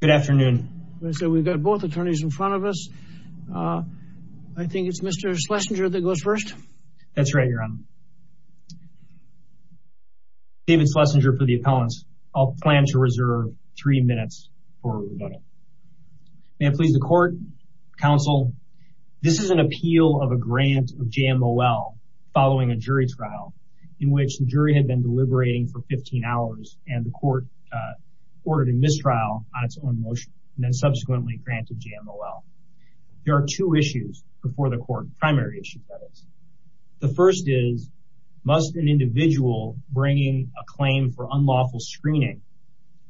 Good afternoon. So we've got both attorneys in front of us. I think it's Mr. Schlesinger that goes first. That's right, your honor. David Schlesinger for the appellants. I'll plan to reserve three minutes for the vote. May it please the court, counsel, this is an appeal of a grant of JMOL following a jury trial in which the jury had been deliberating for 15 hours and the court ordered a mistrial on its own motion and then subsequently granted JMOL. There are two issues before the court, primary issue that is. The first is, must an individual bringing a claim for unlawful screening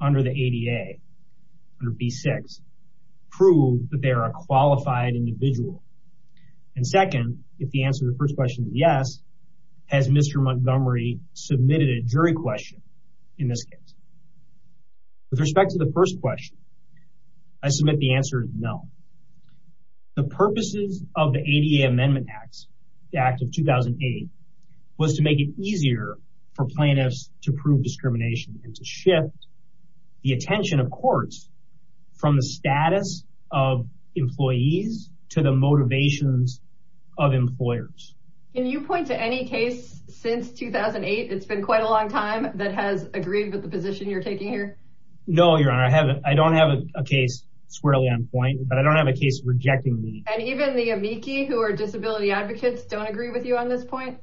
under the ADA, under B6, prove that they are a qualified individual? And second, if the answer to the first question is yes, has Mr. Montgomery submitted a jury question in this case? With respect to the first question, I submit the answer is no. The purposes of the ADA Amendment Act of 2008 was to make it easier for plaintiffs to prove discrimination and to shift the attention of courts from the status of employees to the motivations of employers. Can you point to any case since 2008, it's been quite a long time, that has agreed with the position you're taking here? No, Your Honor, I haven't. I don't have a case, squarely on point, but I don't have a case rejecting me. And even the amici who are disability advocates don't agree with you on this point?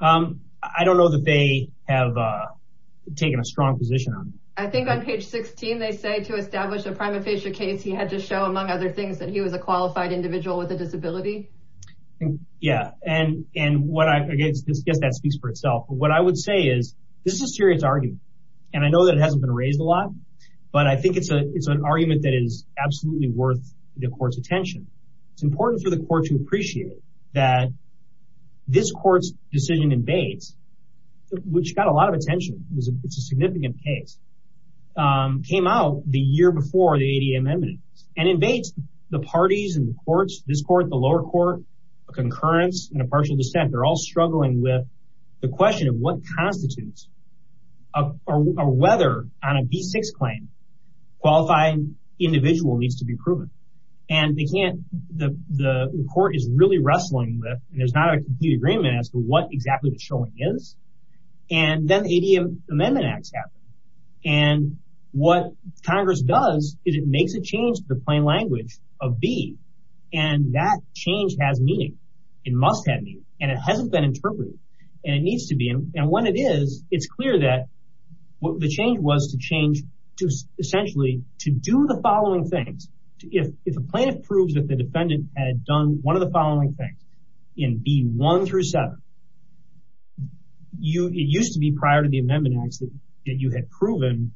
I don't know that they have taken a strong position on it. I think on page 16 they say to establish a prima facie case he had to show, among other things, that he was a qualified individual with a disability. Yeah, and I guess that speaks for itself. What I would say is this is a serious argument, and I know that it hasn't been raised a lot, but I think it's an argument that is absolutely worth the court's attention. It's important for the court to appreciate that this court's decision in Bates, which got a lot of attention, it's a significant case, came out the courts, this court, the lower court, a concurrence, and a partial dissent, they're all struggling with the question of what constitutes, or whether, on a B6 claim, qualified individual needs to be proven. And they can't, the court is really wrestling with, and there's not a complete agreement as to what exactly the showing is, and then the ADM Amendment Acts happen. And what Congress does is it and that change has meaning. It must have meaning, and it hasn't been interpreted, and it needs to be. And when it is, it's clear that what the change was to change to essentially to do the following things. If a plaintiff proves that the defendant had done one of the following things in B1 through 7, it used to be prior to the Amendment Acts that you had proven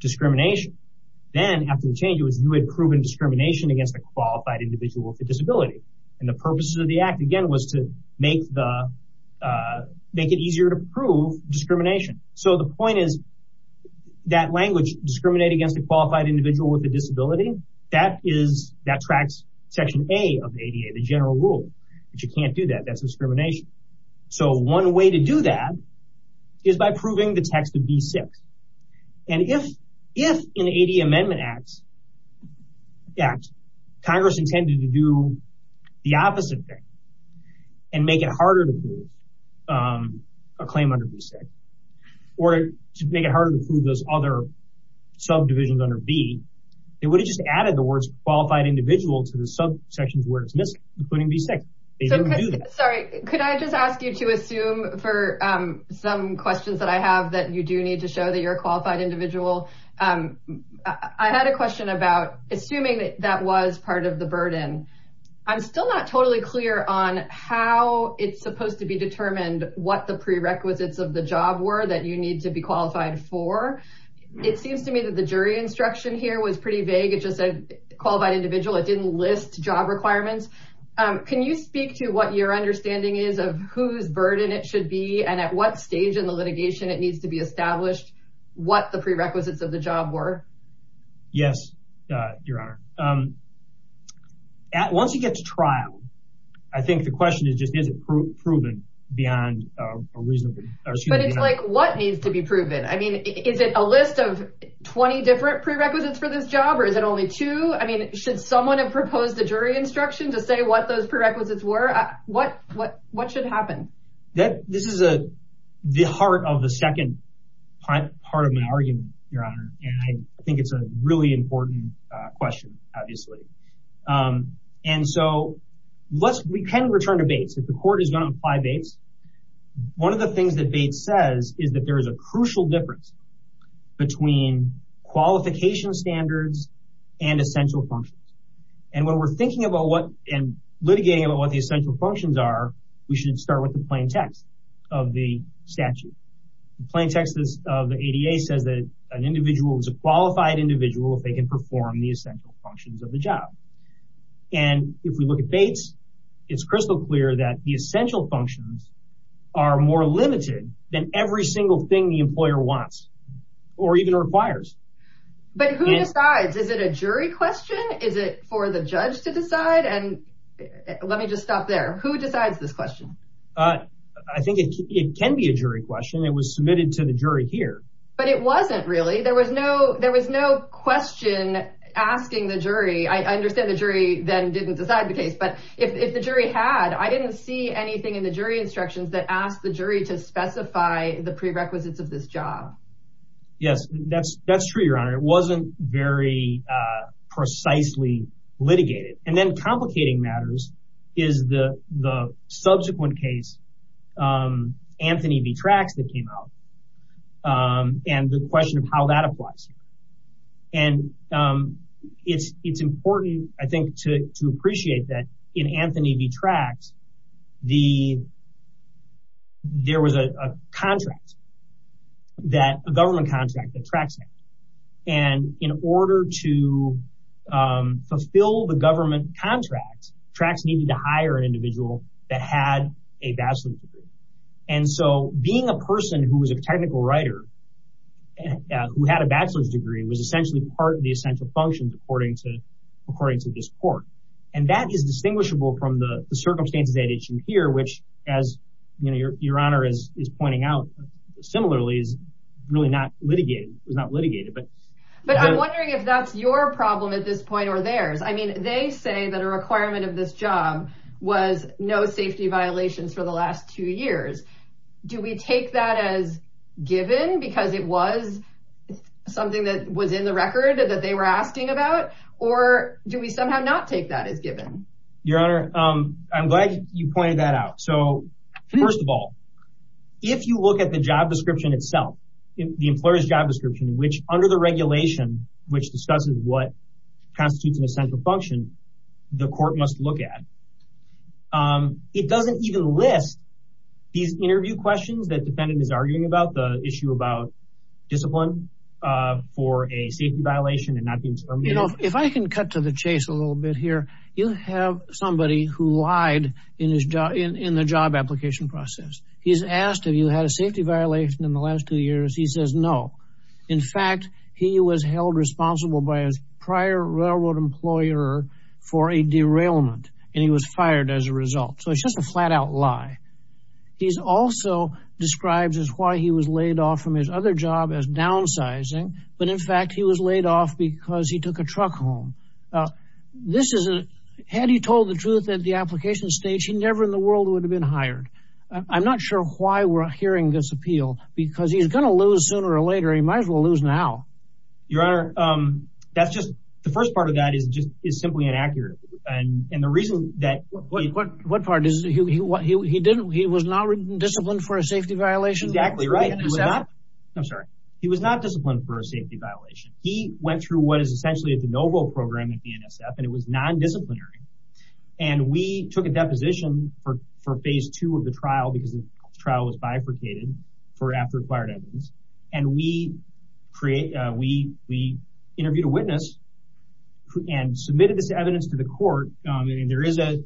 discrimination. Then, after the change, it was you had proven discrimination against a qualified individual with a disability. And the purpose of the Act, again, was to make the, make it easier to prove discrimination. So the point is, that language, discriminate against a qualified individual with a disability, that is, that tracks Section A of the ADA, the general rule. But you can't do that, that's discrimination. So one way to do that is by proving the text of B6. And if, in the AD Amendment Acts, Congress intended to do the opposite thing and make it harder to prove a claim under B6, or to make it harder to prove those other subdivisions under B, it would have just added the words qualified individual to the sub sections where it's missing, including B6. Sorry, could I just ask you to assume, for some questions that I have, that you do need to show that you're a qualified individual. I had a question about assuming that that was part of the burden. I'm still not totally clear on how it's supposed to be determined what the prerequisites of the job were that you need to be qualified for. It seems to me that the jury instruction here was pretty vague, it just said qualified individual, it didn't list job requirements. Can you speak to what your understanding is of whose burden it should be, and at what stage in the prerequisites of the job were? Yes, Your Honor. Once you get to trial, I think the question is just, is it proven beyond a reasonable... But it's like, what needs to be proven? I mean, is it a list of 20 different prerequisites for this job, or is it only two? I mean, should someone have proposed a jury instruction to say what those prerequisites were? What should happen? This is the heart of the second part of my argument, Your Honor, and I think it's a really important question, obviously. And so, let's, we can return to Bates. If the court is going to apply Bates, one of the things that Bates says is that there is a crucial difference between qualification standards and essential functions. And when we're thinking about what, and litigating about what the plain text of the ADA says that an individual is a qualified individual if they can perform the essential functions of the job. And if we look at Bates, it's crystal clear that the essential functions are more limited than every single thing the employer wants, or even requires. But who decides? Is it a jury question? Is it for the judge to decide? And let me just stop there. Who decides this question? I think it can be a jury question. It was submitted to the jury here. But it wasn't, really. There was no, there was no question asking the jury. I understand the jury then didn't decide the case, but if the jury had, I didn't see anything in the jury instructions that asked the jury to specify the prerequisites of this job. Yes, that's, that's true, Your Honor. It wasn't very precisely litigated. And then complicating matters is the, the subsequent case, Anthony v. Trax, that came out. And the question of how that applies. And it's, it's important, I think, to, to appreciate that in Anthony v. Trax, the, there was a contract that, a government contract that Trax had. And in order to fulfill the government contract, Trax needed to hire an individual that had a bachelor's degree. And so being a person who was a technical writer, who had a bachelor's degree, was essentially part of the essential functions according to, according to this court. And that is distinguishable from the circumstances at issue here, which, as, you know, Your Honor is, is pointing out similarly, is really not litigated. It was not litigated, but. But I'm wondering if that's your problem at this point or theirs. I mean, they say that a requirement of this job was no safety violations for the last two years. Do we take that as given? Because it was something that was in the record that they were asking about? Or do we somehow not take that as given? Your Honor, I'm that out. So first of all, if you look at the job description itself, the employer's job description, which under the regulation, which discusses what constitutes an essential function, the court must look at. It doesn't even list these interview questions that defendant is arguing about, the issue about discipline for a safety violation and not being terminated. You know, if I can cut to the in the job application process, he's asked if you had a safety violation in the last two years. He says no. In fact, he was held responsible by his prior railroad employer for a derailment, and he was fired as a result. So it's just a flat-out lie. He's also describes as why he was laid off from his other job as downsizing. But in fact, he was laid off because he took a truck home. This is a, had he told the truth at the application stage, he never in the world would have been hired. I'm not sure why we're hearing this appeal, because he's gonna lose sooner or later. He might as well lose now. Your Honor, that's just, the first part of that is just, is simply inaccurate. And the reason that, what part is, he didn't, he was not disciplined for a safety violation? Exactly right. I'm sorry. He was not disciplined for a safety violation. He went through what is essentially at the NOVO program at BNSF, and it was non-disciplinary. And we took a deposition for phase two of the trial, because the trial was bifurcated for after acquired evidence. And we interviewed a witness and submitted this evidence to the court. And there is an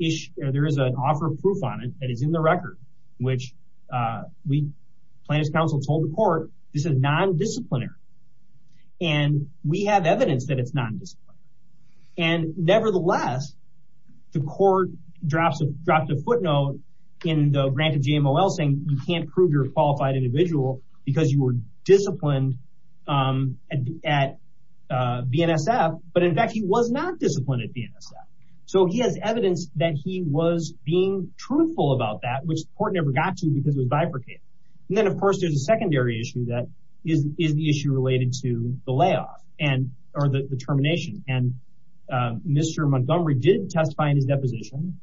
issue, there is an offer of proof on it that is in the record, which plaintiff's counsel told the court, this is non-disciplinary. And we have evidence that it's non-disciplinary. And nevertheless, the court drops a, dropped a footnote in the grant of GMOL saying, you can't prove you're a qualified individual, because you were disciplined at BNSF. But in fact, he was not disciplined at BNSF. So he has evidence that he was being truthful about that, which the court never got to, because it was bifurcated. And then of course, there's a secondary issue that is, is the issue related to the layoff and, or the termination. And Mr. Montgomery did testify in his deposition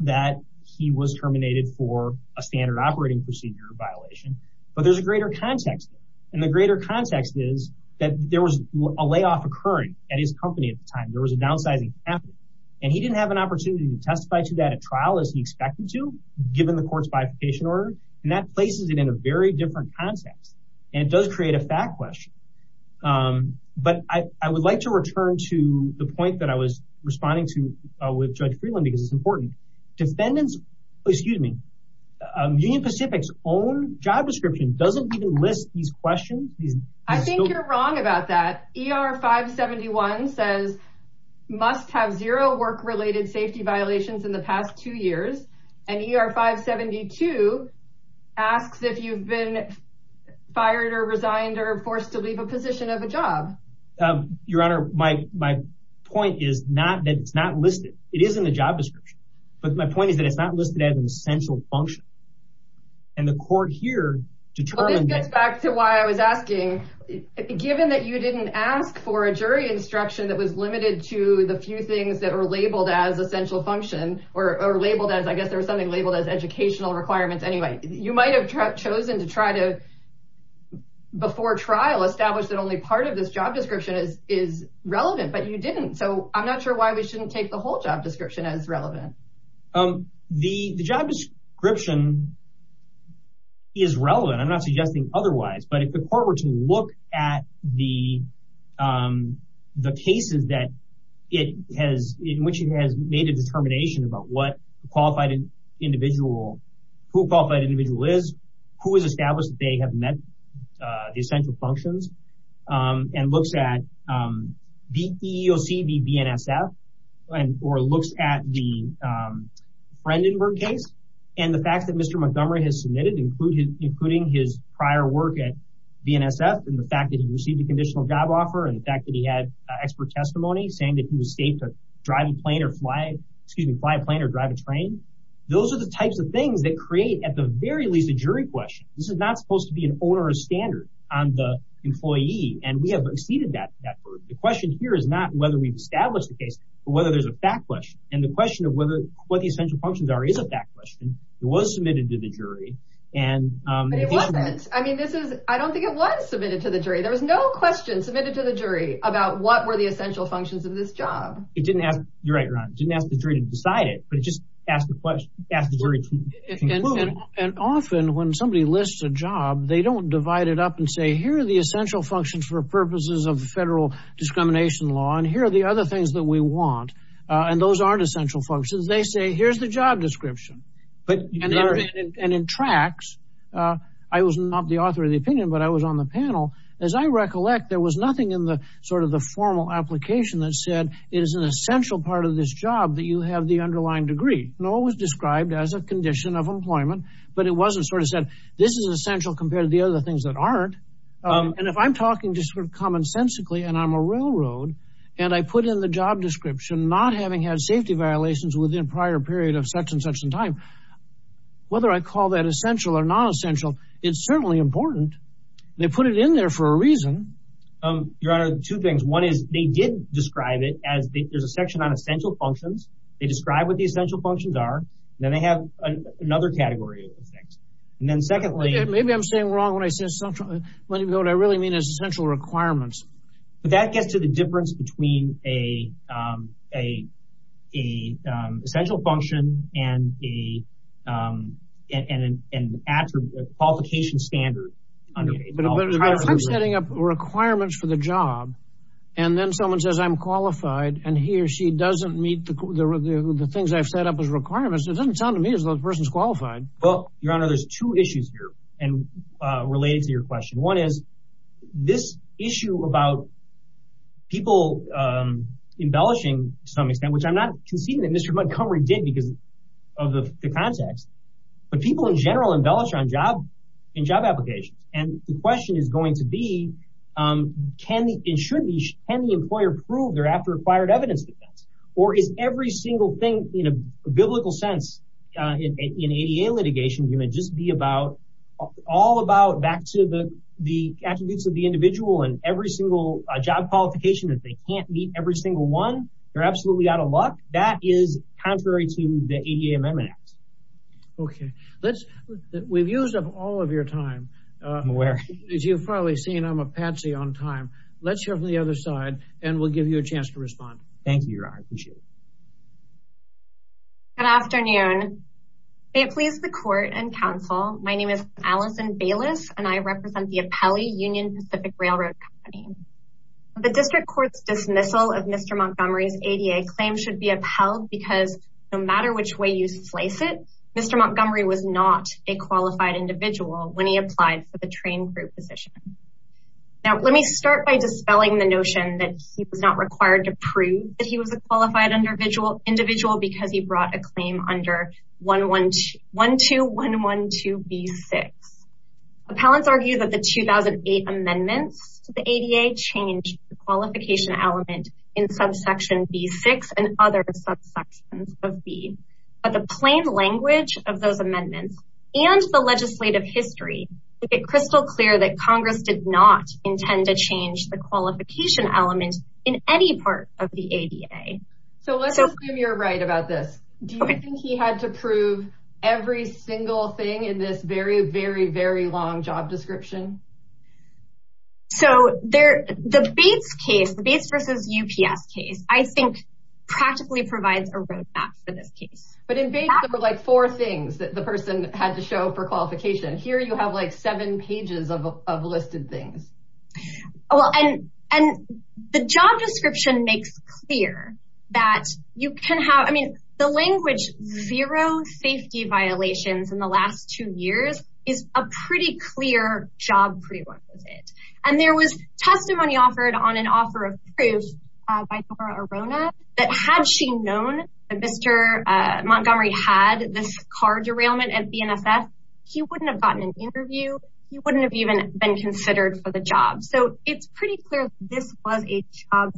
that he was terminated for a standard operating procedure violation. But there's a greater context. And the greater context is that there was a layoff occurring at his company at the time. There was a downsizing happening. And he didn't have an opportunity to testify to that at trial as he expected to, given the court's bifurcation order. And that places it in a very different context. And it does create a fact question. But I would like to return to the point that I was responding to with Judge Freeland, because it's important. Defendants, excuse me, Union Pacific's own job description doesn't even list these questions. I think you're wrong about that. ER 571 says, must have zero work related safety violations in the past two years. And ER 572 asks if you've been fired or resigned or forced to leave a position of a job. Your Honor, my, my point is not that it's not listed. It is in the job description. But my point is that it's not listed as an essential function. And the court here determined This gets back to why I was asking, given that you didn't ask for a jury instruction that was limited to the few things that were labeled as essential function or labeled as I guess there was something labeled as educational requirements. Anyway, you might have chosen to try to before trial establish that only part of this job description is is relevant, but you didn't. So I'm not sure why we shouldn't take the whole job description as relevant. The job description is relevant. I'm not suggesting otherwise. But if the court were to look at the the cases that it has, in which it has made a determination about what qualified individual, who qualified individual is, who is established, they have met the essential functions and looks at the EEOC, the BNSF and or looks at the Frendenburg case. And the fact that Mr. Montgomery has submitted including his prior work at BNSF, and the fact that he received a conditional job offer, and the fact that he had expert testimony saying that he was safe to drive a plane or fly, excuse me, fly a plane or drive a train. Those are the types of things that create at the very least a jury question. This is not supposed to be an owner of standard on the employee. And we have exceeded that. The question here is not whether we've established the case, or whether there's a fact question. And the question of whether what the essential functions are is a fact question. It was submitted to the jury. And I mean, this is, I don't think it was submitted to the jury. There was no question submitted to the jury about what were the essential functions of this job. It didn't have, you're right, Ron, didn't ask the jury to decide it, but just ask the question. And often when somebody lists a job, they don't divide it up and say, here are the essential functions for purposes of federal discrimination law. And here are the other things that we want. And those aren't essential functions. They say, here's the job description. And in tracks, I was not the author of the opinion, but I was on the panel. As I recollect, there was nothing in the sort of the formal application that said, it is an essential part of this job that you have the underlying degree. No, it was described as a condition of employment, but it wasn't sort of said, this is essential compared to the other things that aren't. And if I'm talking just sort of commonsensically, and I'm a railroad, and I put in the job description, not having had safety violations within prior period of such and such in time, whether I call that essential or non-essential, it's certainly important. They put it in there for a reason. Your Honor, two things. One is, they did describe it as there's a section on essential functions. They describe what the essential functions are. Then they have another category of things. And then secondly... Maybe I'm saying wrong when I say essential. What I really mean is a essential function and a qualification standard. But if I'm setting up requirements for the job, and then someone says I'm qualified, and he or she doesn't meet the things I've set up as requirements, it doesn't sound to me as though the person's qualified. Well, Your Honor, there's two issues here and related to your question. One is, this issue about people embellishing, to some extent, which I'm not conceding that Mr. Montgomery did because of the context, but people in general embellish on job applications. And the question is going to be, can the employer prove their after-acquired evidence defense? Or is every single thing, in a biblical sense, in an ADA litigation, going to just be all about back to the attributes of the individual and every single job qualification that they can't meet, every single one, they're absolutely out of luck? That is contrary to the ADA Amendment Act. Okay. We've used up all of your time. I'm aware. As you've probably seen, I'm a patsy on time. Let's hear from the other side, and we'll give you a chance to respond. Thank you, Your Honor. I appreciate it. Good afternoon. May it please the court and counsel, my name is Allison Bayless, and I represent the Apelli Union Pacific Railroad Company. The district court's dismissal of Mr. Montgomery's ADA claim should be upheld because, no matter which way you slice it, Mr. Montgomery was not a qualified individual when he applied for the train crew position. Now, let me start by dispelling the notion that he was not required to prove that he was a qualified individual because he brought a claim under 12112B6. Appellants argue that the 2008 amendments to the ADA changed the qualification element in subsection B6 and other subsections of B. But the plain language of those amendments and the legislative history make it crystal clear that Congress did not intend to change the qualification element in any part of the ADA. So let's assume you're right about this. Do you think he had to prove every single thing in this very, very, very long job description? So the Bates case, the Bates versus UPS case, I think practically provides a roadmap for this case. But in Bates there were like four things that the person had to show for qualification. Here you have like seven pages of listed things. Well, and the job description makes clear that you can have, I mean, the language zero safety violations in the last two years is a pretty clear job prerequisite. And there was testimony offered on an offer of proof by Nora Arona that had she known that Mr. Montgomery had this car derailment at BNSS, he wouldn't have gotten an interview. He wouldn't have even been considered for the job. So it's pretty clear this was a job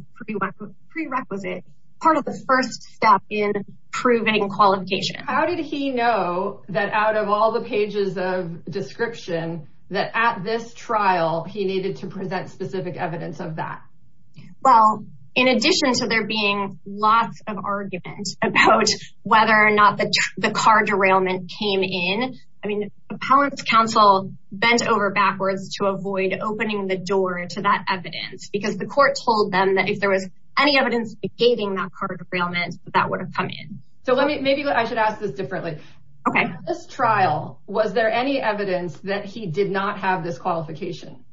prerequisite. Part of the first step in proving qualification. How did he know that out of all the pages of description that at this trial, he needed to present specific evidence of that? Well, in addition to there being lots of argument about whether or not the car derailment came in, I mean, Appellant's counsel bent over backwards to avoid opening the door to that evidence because the derailment that would have come in. So let me, maybe I should ask this differently. Okay. This trial, was there any evidence that he did not have this qualification?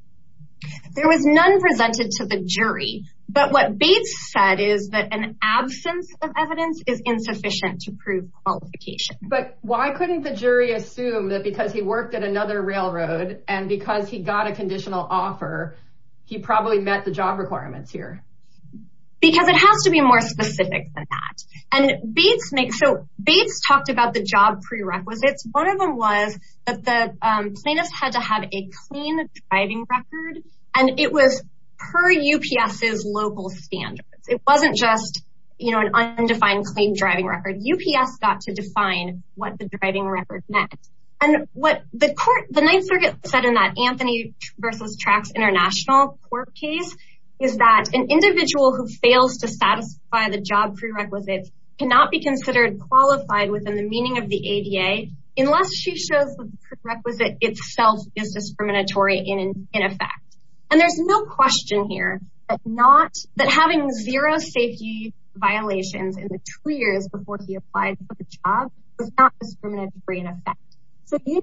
There was none presented to the jury. But what Bates said is that an absence of evidence is insufficient to prove qualification. But why couldn't the jury assume that because he worked at another railroad and because he got a conditional offer, he probably met the job requirements here? Because it has to be more specific than that. And Bates makes, so Bates talked about the job prerequisites. One of them was that the plaintiffs had to have a clean driving record. And it was per UPS's local standards. It wasn't just, you know, an undefined clean driving record. UPS got to define what the driving record meant. And what the court, the Ninth Circuit said in that Anthony versus Trax International court case, is that an individual who fails to satisfy the job prerequisites cannot be considered qualified within the meaning of the ADA unless she shows the prerequisite itself is discriminatory in effect. And there's no question here that not, that having zero safety violations in the two years before he applied for the job was not discriminatory in effect. So the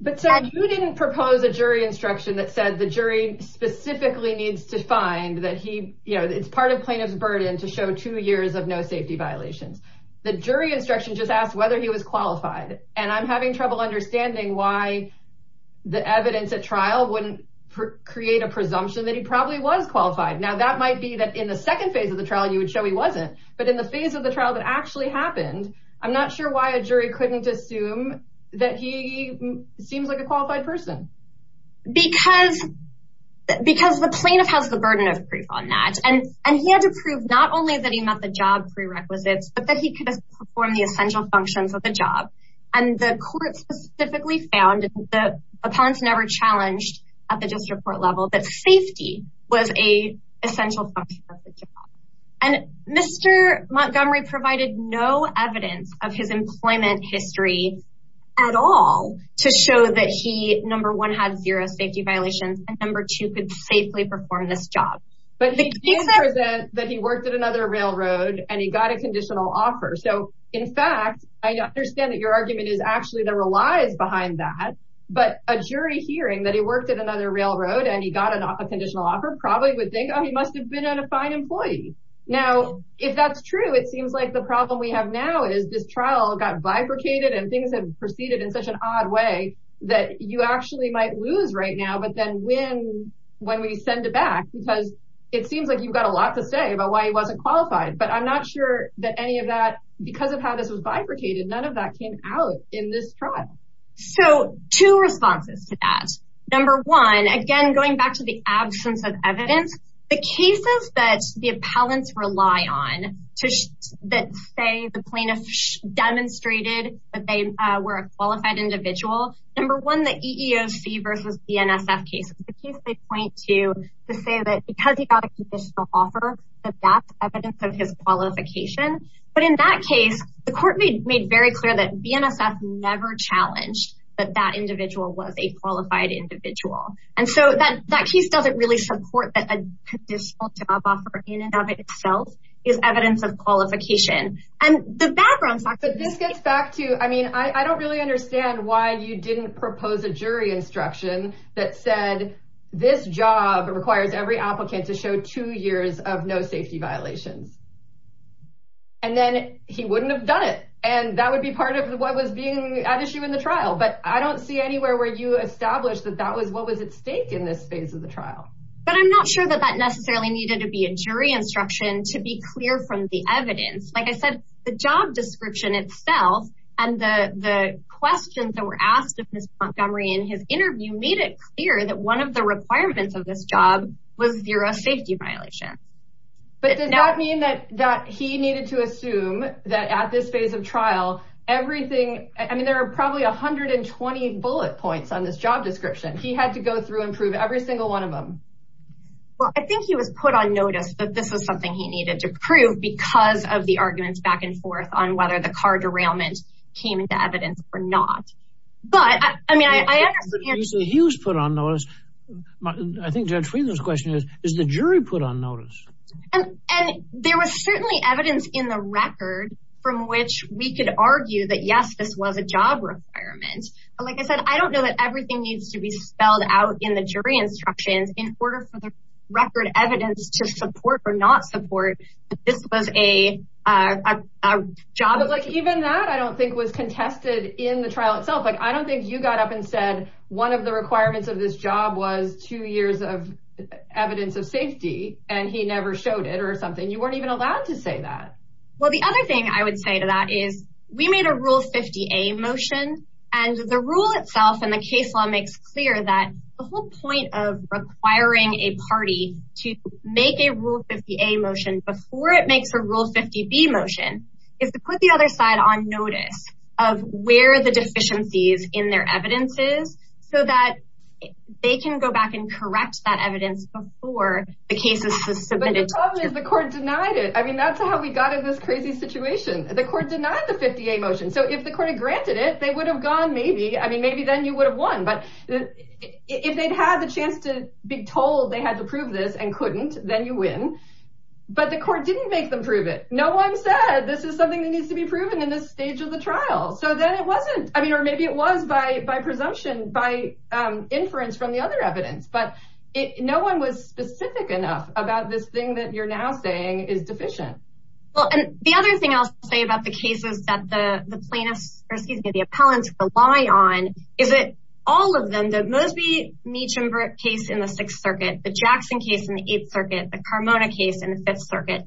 But so you didn't propose a jury instruction that said the jury specifically needs to find that he, you know, it's part of plaintiff's burden to show two years of no safety violations. The jury instruction just asked whether he was qualified. And I'm having trouble understanding why the evidence at trial wouldn't create a presumption that he probably was qualified. Now, that might be that in the second phase of the trial, you would show he wasn't. But in the phase of the trial that actually happened, I'm not sure why a jury couldn't assume that he seems like a qualified person. Because, because the plaintiff has the burden of proof on that. And, and he had to prove not only that he met the job prerequisites, but that he could perform the essential functions of the job. And the court specifically found that the appellants never challenged at the district court level that safety was a essential function of the job. And Mr. Montgomery provided no evidence of his employment history at all to show that he, number one, had zero safety violations, and number two, could safely perform this job. But he did present that he worked at another railroad and he got a conditional offer. So, in fact, I understand that your argument is actually there were lies behind that. But a jury hearing that he worked at another railroad and he got a conditional offer probably would think, oh, he must have been a fine employee. Now, if that's true, it seems like the problem we have now is this trial got bifurcated and things have proceeded in such an odd way that you actually might lose right now, but then win when we send it back, because it seems like you've got a lot to say about why he wasn't qualified. But I'm not sure that any of that, because of how this was bifurcated, none of that came out in this trial. So, two responses to that. Number one, again, going back to the absence of evidence, the cases that the appellants rely on that say the plaintiff demonstrated that they were a qualified individual, number one, the EEOC versus BNSF case, the case they point to to say that because he got a conditional offer, that that's evidence of his qualification. But in that case, the court made very clear that BNSF never challenged that that individual was a qualified individual. And so that case doesn't really support that a conditional job offer in and of itself is evidence of qualification. And the background... But this gets back to, I mean, I don't really understand why you didn't propose a jury instruction that said, this job requires every applicant to show two years of no safety violations. And then he wouldn't have done it. And that would be part of what was being at issue in the trial. But I don't see anywhere where you established that that was what was at stake in this phase of the trial. But I'm not sure that that necessarily needed to be a jury instruction to be clear from the evidence. Like I said, the job description itself and the questions that were asked of Ms. Montgomery in his interview made it clear that one of the requirements of this job was zero safety violation. But does that mean that he needed to assume that at this phase of trial, everything, I mean, there are probably 120 bullet points on this job description. He had to go through and prove every single one of them. Well, I think he was put on notice that this was something he needed to prove because of the arguments back and forth on whether the car derailment came into evidence or not. But I mean, I understand... You say he was put on notice. I think Judge Friedland's question is, is the jury put on notice? And there was certainly evidence in the record from which we could argue that, yes, this was a job requirement. But like I said, I don't know that everything needs to be spelled out in the jury instructions in order for the record evidence to support or not support that this was a job. But even that, I don't think, was contested in the trial itself. I don't think you got up and said one of the requirements of this job was two years of safety, and he never showed it or something. You weren't even allowed to say that. Well, the other thing I would say to that is we made a Rule 50A motion, and the rule itself and the case law makes clear that the whole point of requiring a party to make a Rule 50A motion before it makes a Rule 50B motion is to put the other side on notice of where the deficiencies in their evidence is so they can go back and correct that evidence before the case is submitted. But the problem is the court denied it. I mean, that's how we got in this crazy situation. The court denied the 50A motion. So if the court had granted it, they would have gone maybe. I mean, maybe then you would have won. But if they'd had the chance to be told they had to prove this and couldn't, then you win. But the court didn't make them prove it. No one said this is something that needs to be proven in this stage of the trial. So then it wasn't. I mean, maybe it was by presumption, by inference from the other evidence. But no one was specific enough about this thing that you're now saying is deficient. Well, and the other thing I'll say about the cases that the plaintiffs or, excuse me, the appellants rely on is that all of them, the Mosby, Meacham case in the Sixth Circuit, the Jackson case in the Eighth Circuit, the Carmona case in the Fifth Circuit,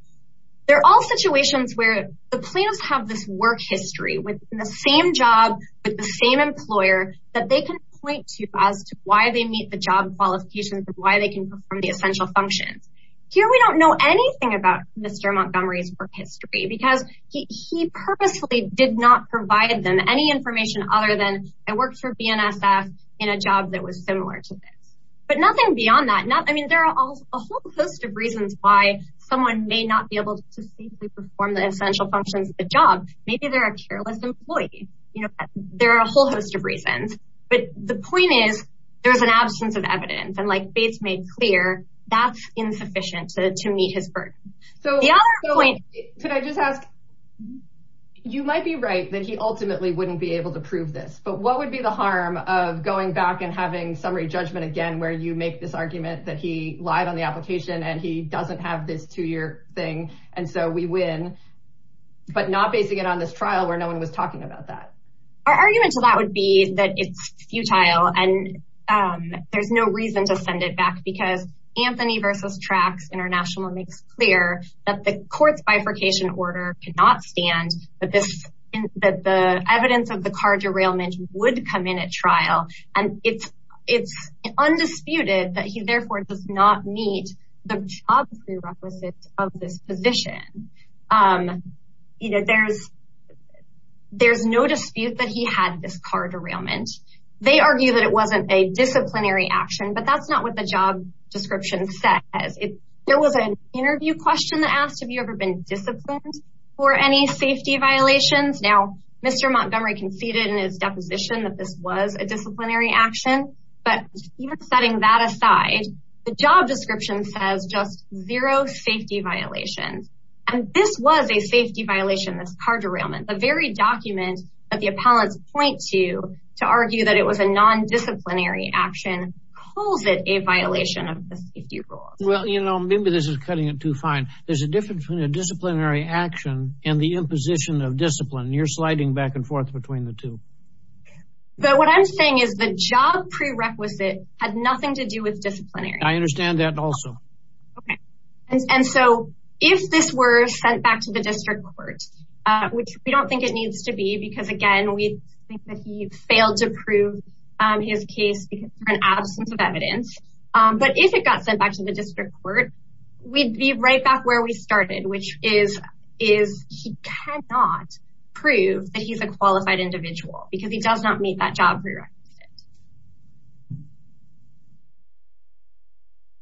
they're all situations where the plaintiffs have this work history within the same job with the same employer that they can point to as to why they meet the job qualifications and why they can perform the essential functions. Here we don't know anything about Mr. Montgomery's work history because he purposely did not provide them any information other than I worked for BNSF in a job that was similar to this. But nothing beyond that. I mean, there are a whole host of reasons why someone may not be able to safely perform the essential functions of the job. Maybe they're a careless employee. You know, there are a whole host of reasons. But the point is, there's an absence of evidence. And like Bates made clear, that's insufficient to meet his burden. So the other point- Could I just ask, you might be right that he ultimately wouldn't be able to prove this. But what would be the harm of going back and having summary judgment again where you make this argument that he lied on the application and he doesn't have this two-year thing and so we win, but not basing it on this trial where no one was talking about that? Our argument to that would be that it's futile and there's no reason to send it back because Anthony versus Trax International makes clear that the court's bifurcation order cannot stand that the evidence of the car derailment would come in at trial. And it's undisputed that he therefore does not meet the job prerequisites of this position. There's no dispute that he had this car derailment. They argue that it wasn't a disciplinary action, but that's not what the job description says. There was an interview question that asked, have you ever been disciplined for any safety violations? Now, Mr. Montgomery conceded in his deposition that this was a disciplinary action. But even setting that aside, the job description says zero safety violations. And this was a safety violation, this car derailment. The very document that the appellants point to to argue that it was a nondisciplinary action calls it a violation of the safety rules. Well, you know, maybe this is cutting it too fine. There's a difference between a disciplinary action and the imposition of discipline. You're sliding back and forth between the two. But what I'm saying is the job prerequisite had nothing to do with disciplinary. I understand that also. Okay. And so if this were sent back to the district court, which we don't think it needs to be, because again, we think that he failed to prove his case for an absence of evidence. But if it got sent back to the district court, we'd be right back where we started, which is, is he cannot prove that he's a qualified individual because he does not meet that job prerequisite.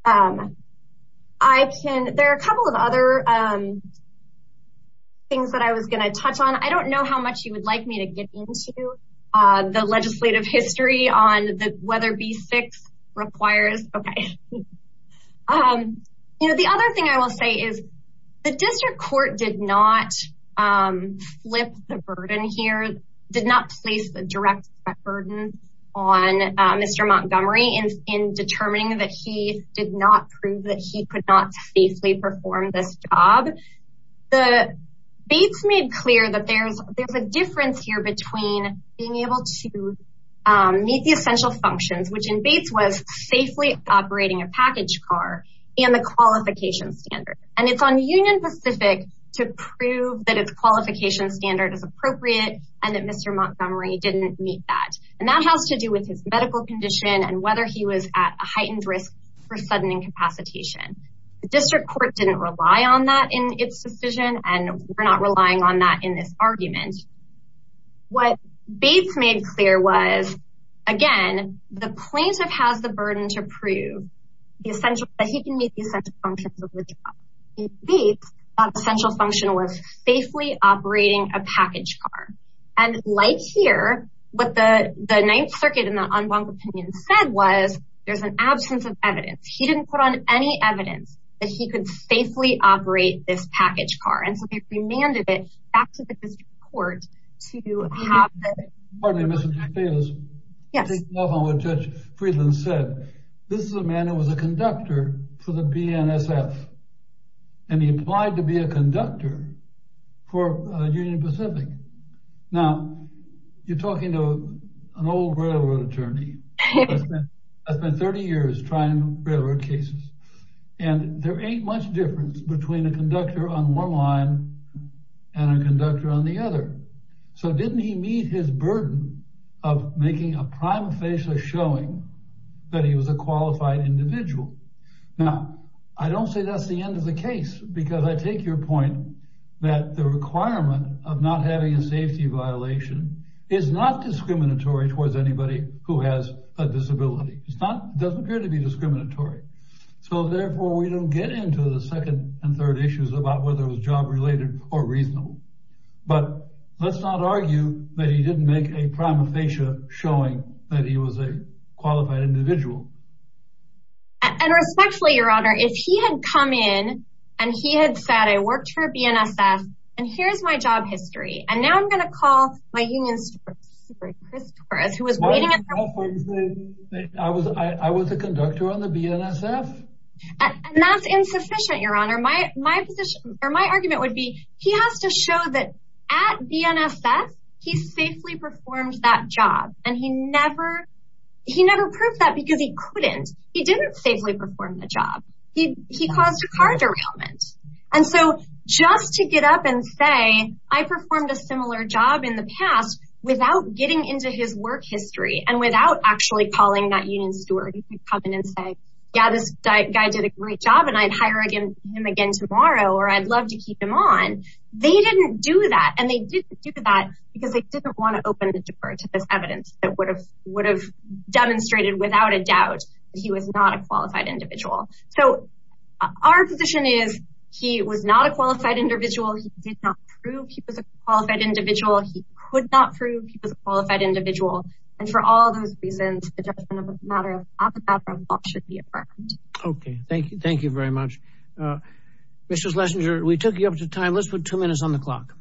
Um, I can, there are a couple of other, um, things that I was going to touch on. I don't know how much you would like me to get into, uh, the legislative history on the weather be six requires. Okay. Um, you know, the other thing I will say is the district court did not, um, flip the burden here, did not place the burden on, uh, Mr. Montgomery in, in determining that he did not prove that he could not safely perform this job. The Bates made clear that there's, there's a difference here between being able to, um, meet the essential functions, which in Bates was safely operating a package car and the qualification standard. And it's on union Pacific to prove that it's qualification standard is and that Mr. Montgomery didn't meet that. And that has to do with his medical condition and whether he was at a heightened risk for sudden incapacitation. The district court didn't rely on that in its decision. And we're not relying on that in this argument. What Bates made clear was, again, the plaintiff has the burden to prove the essential, that he can meet the essential functions of the job. In Bates, the essential function was safely operating a package car. And like here, what the, the ninth circuit in the en banc opinion said was there's an absence of evidence. He didn't put on any evidence that he could safely operate this package car. And so they remanded it back to the district court to have that. Pardon me, Mr. DeFelice. Yes. Taking off on what Judge Friedland said. This is a man who was a conductor for the BNSF. And he applied to be a conductor for Union Pacific. Now you're talking to an old railroad attorney. I spent 30 years trying railroad cases and there ain't much difference between a conductor on one line and a conductor on the other. So didn't he meet his burden of making a prime facial showing that he was a qualified individual? Now, I don't say that's the end of the case, because I take your point. That the requirement of not having a safety violation is not discriminatory towards anybody who has a disability. It's not, doesn't appear to be discriminatory. So therefore we don't get into the second and third issues about whether it was job related or reasonable, but let's not argue that he didn't make a prime facial showing that he was a qualified individual. Respectfully, Your Honor, if he had come in and he had said, I worked for BNSF and here's my job history. And now I'm going to call my union secretary, Chris Torres, who was waiting. I was, I was a conductor on the BNSF. And that's insufficient, Your Honor. My, my position or my argument would be he has to show that at BNSF, he safely performed that job. And he never, he never proved that because he couldn't. He didn't safely perform the job. He, he caused a car derailment. And so just to get up and say, I performed a similar job in the past without getting into his work history. And without actually calling that union steward, you can come in and say, yeah, this guy did a great job and I'd hire him again tomorrow, or I'd love to keep him on. They didn't do that. And they didn't do that because they didn't want to open the door to this would have demonstrated without a doubt that he was not a qualified individual. So our position is he was not a qualified individual. He did not prove he was a qualified individual. He could not prove he was a qualified individual. And for all those reasons, the judgment of a matter of alphabetical law should be affirmed. Okay. Thank you. Thank you very much. Mr. Schlesinger, we took you up to time. Let's put two minutes on the clock.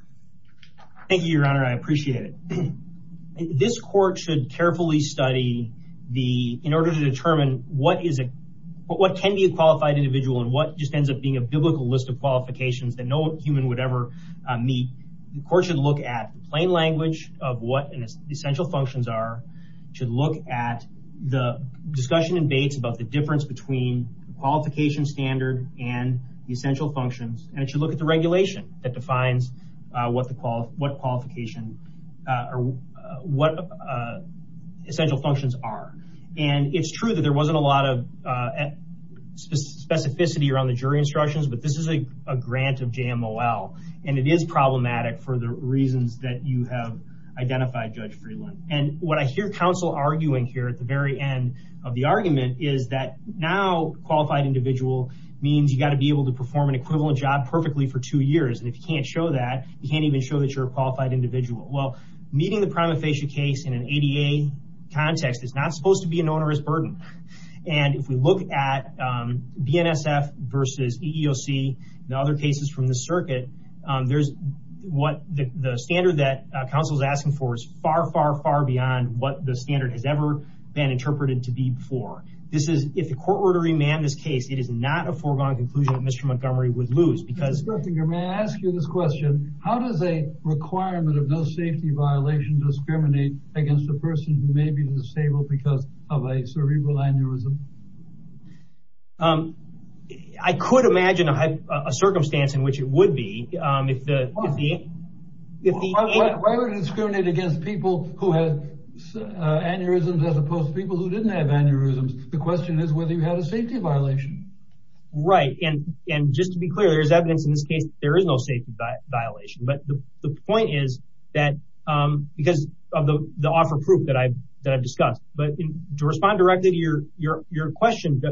Thank you, Your Honor. I appreciate it. This court should carefully study in order to determine what can be a qualified individual and what just ends up being a biblical list of qualifications that no human would ever meet. The court should look at plain language of what the essential functions are, should look at the discussion in Bates about the difference between the qualification standard and the essential functions. And it should look at the regulation that defines what the qualification or what essential functions are. And it's true that there wasn't a lot of specificity around the jury instructions, but this is a grant of JMOL. And it is problematic for the reasons that you have identified, Judge Freeland. And what I hear counsel arguing here at the very end of the argument is that now qualified individual means you've got to be able to perform an equivalent job perfectly for two years. And if you can't show that, you can't even show that you're a qualified individual. Well, meeting the prima facie case in an ADA context is not supposed to be an onerous burden. And if we look at BNSF versus EEOC and other cases from the circuit, the standard that counsel is asking for is far, far, far beyond what the standard has ever been interpreted to be before. This is, if the court were to remand this case, it is not a foregone conclusion that Mr. Montgomery would lose. Mr. Sturtinger, may I ask you this question? How does a requirement of no safety violation discriminate against a person who may be disabled because of a cerebral aneurysm? I could imagine a circumstance in which it would be. Why would it discriminate against people who have aneurysms as opposed to people who didn't have aneurysms? The question is whether you had a safety violation. Right. And just to be clear, there's evidence in this case, there is no safety violation. But the point is that because of the offer proof that I've discussed, but to respond directly to your question,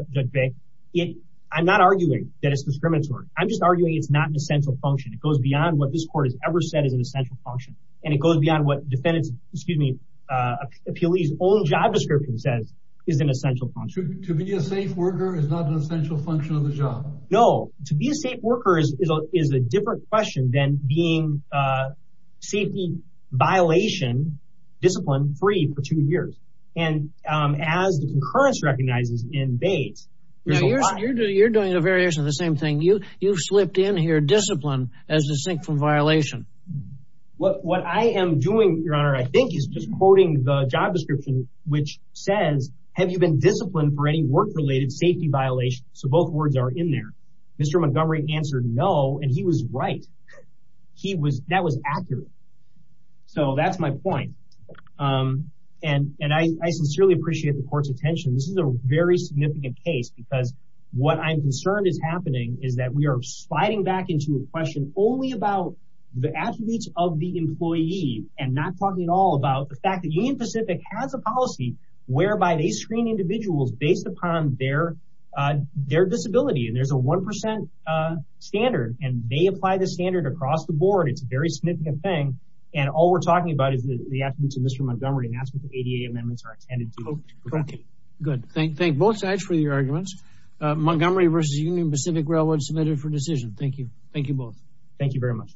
I'm not arguing that it's discriminatory. I'm just arguing it's not an essential function. It goes beyond what this court has ever said is an essential function. And it goes beyond what defendant's, excuse me, appealee's own job description says is an essential function. To be a safe worker is not an essential function of the job. No. To be a safe worker is a different question than being safety violation, discipline free for two years. And as the concurrence recognizes in Bates. You're doing a variation of the same thing. You've slipped in here discipline as distinct from violation. What I am doing, your honor, I think is just quoting the job description, which says, have you been disciplined for any work related safety violation? So both words are in there. Mr. Montgomery answered no, and he was right. That was accurate. So that's my point. And I sincerely appreciate the court's attention. This is a very significant case because what I'm concerned is happening is that we are sliding back into a question only about the attributes of the employee and not talking at all about the fact that Union Pacific has a policy whereby they screen individuals based upon their disability. And there's a 1% standard, and they apply the standard across the board. It's a very significant thing. And all we're talking about is the attributes of Mr. Montgomery. And that's what the ADA amendments are intended to do. Correct. Good. Thank both sides for your arguments. Montgomery versus Union Pacific Railroad submitted for decision. Thank you. Thank you both. Thank you very much.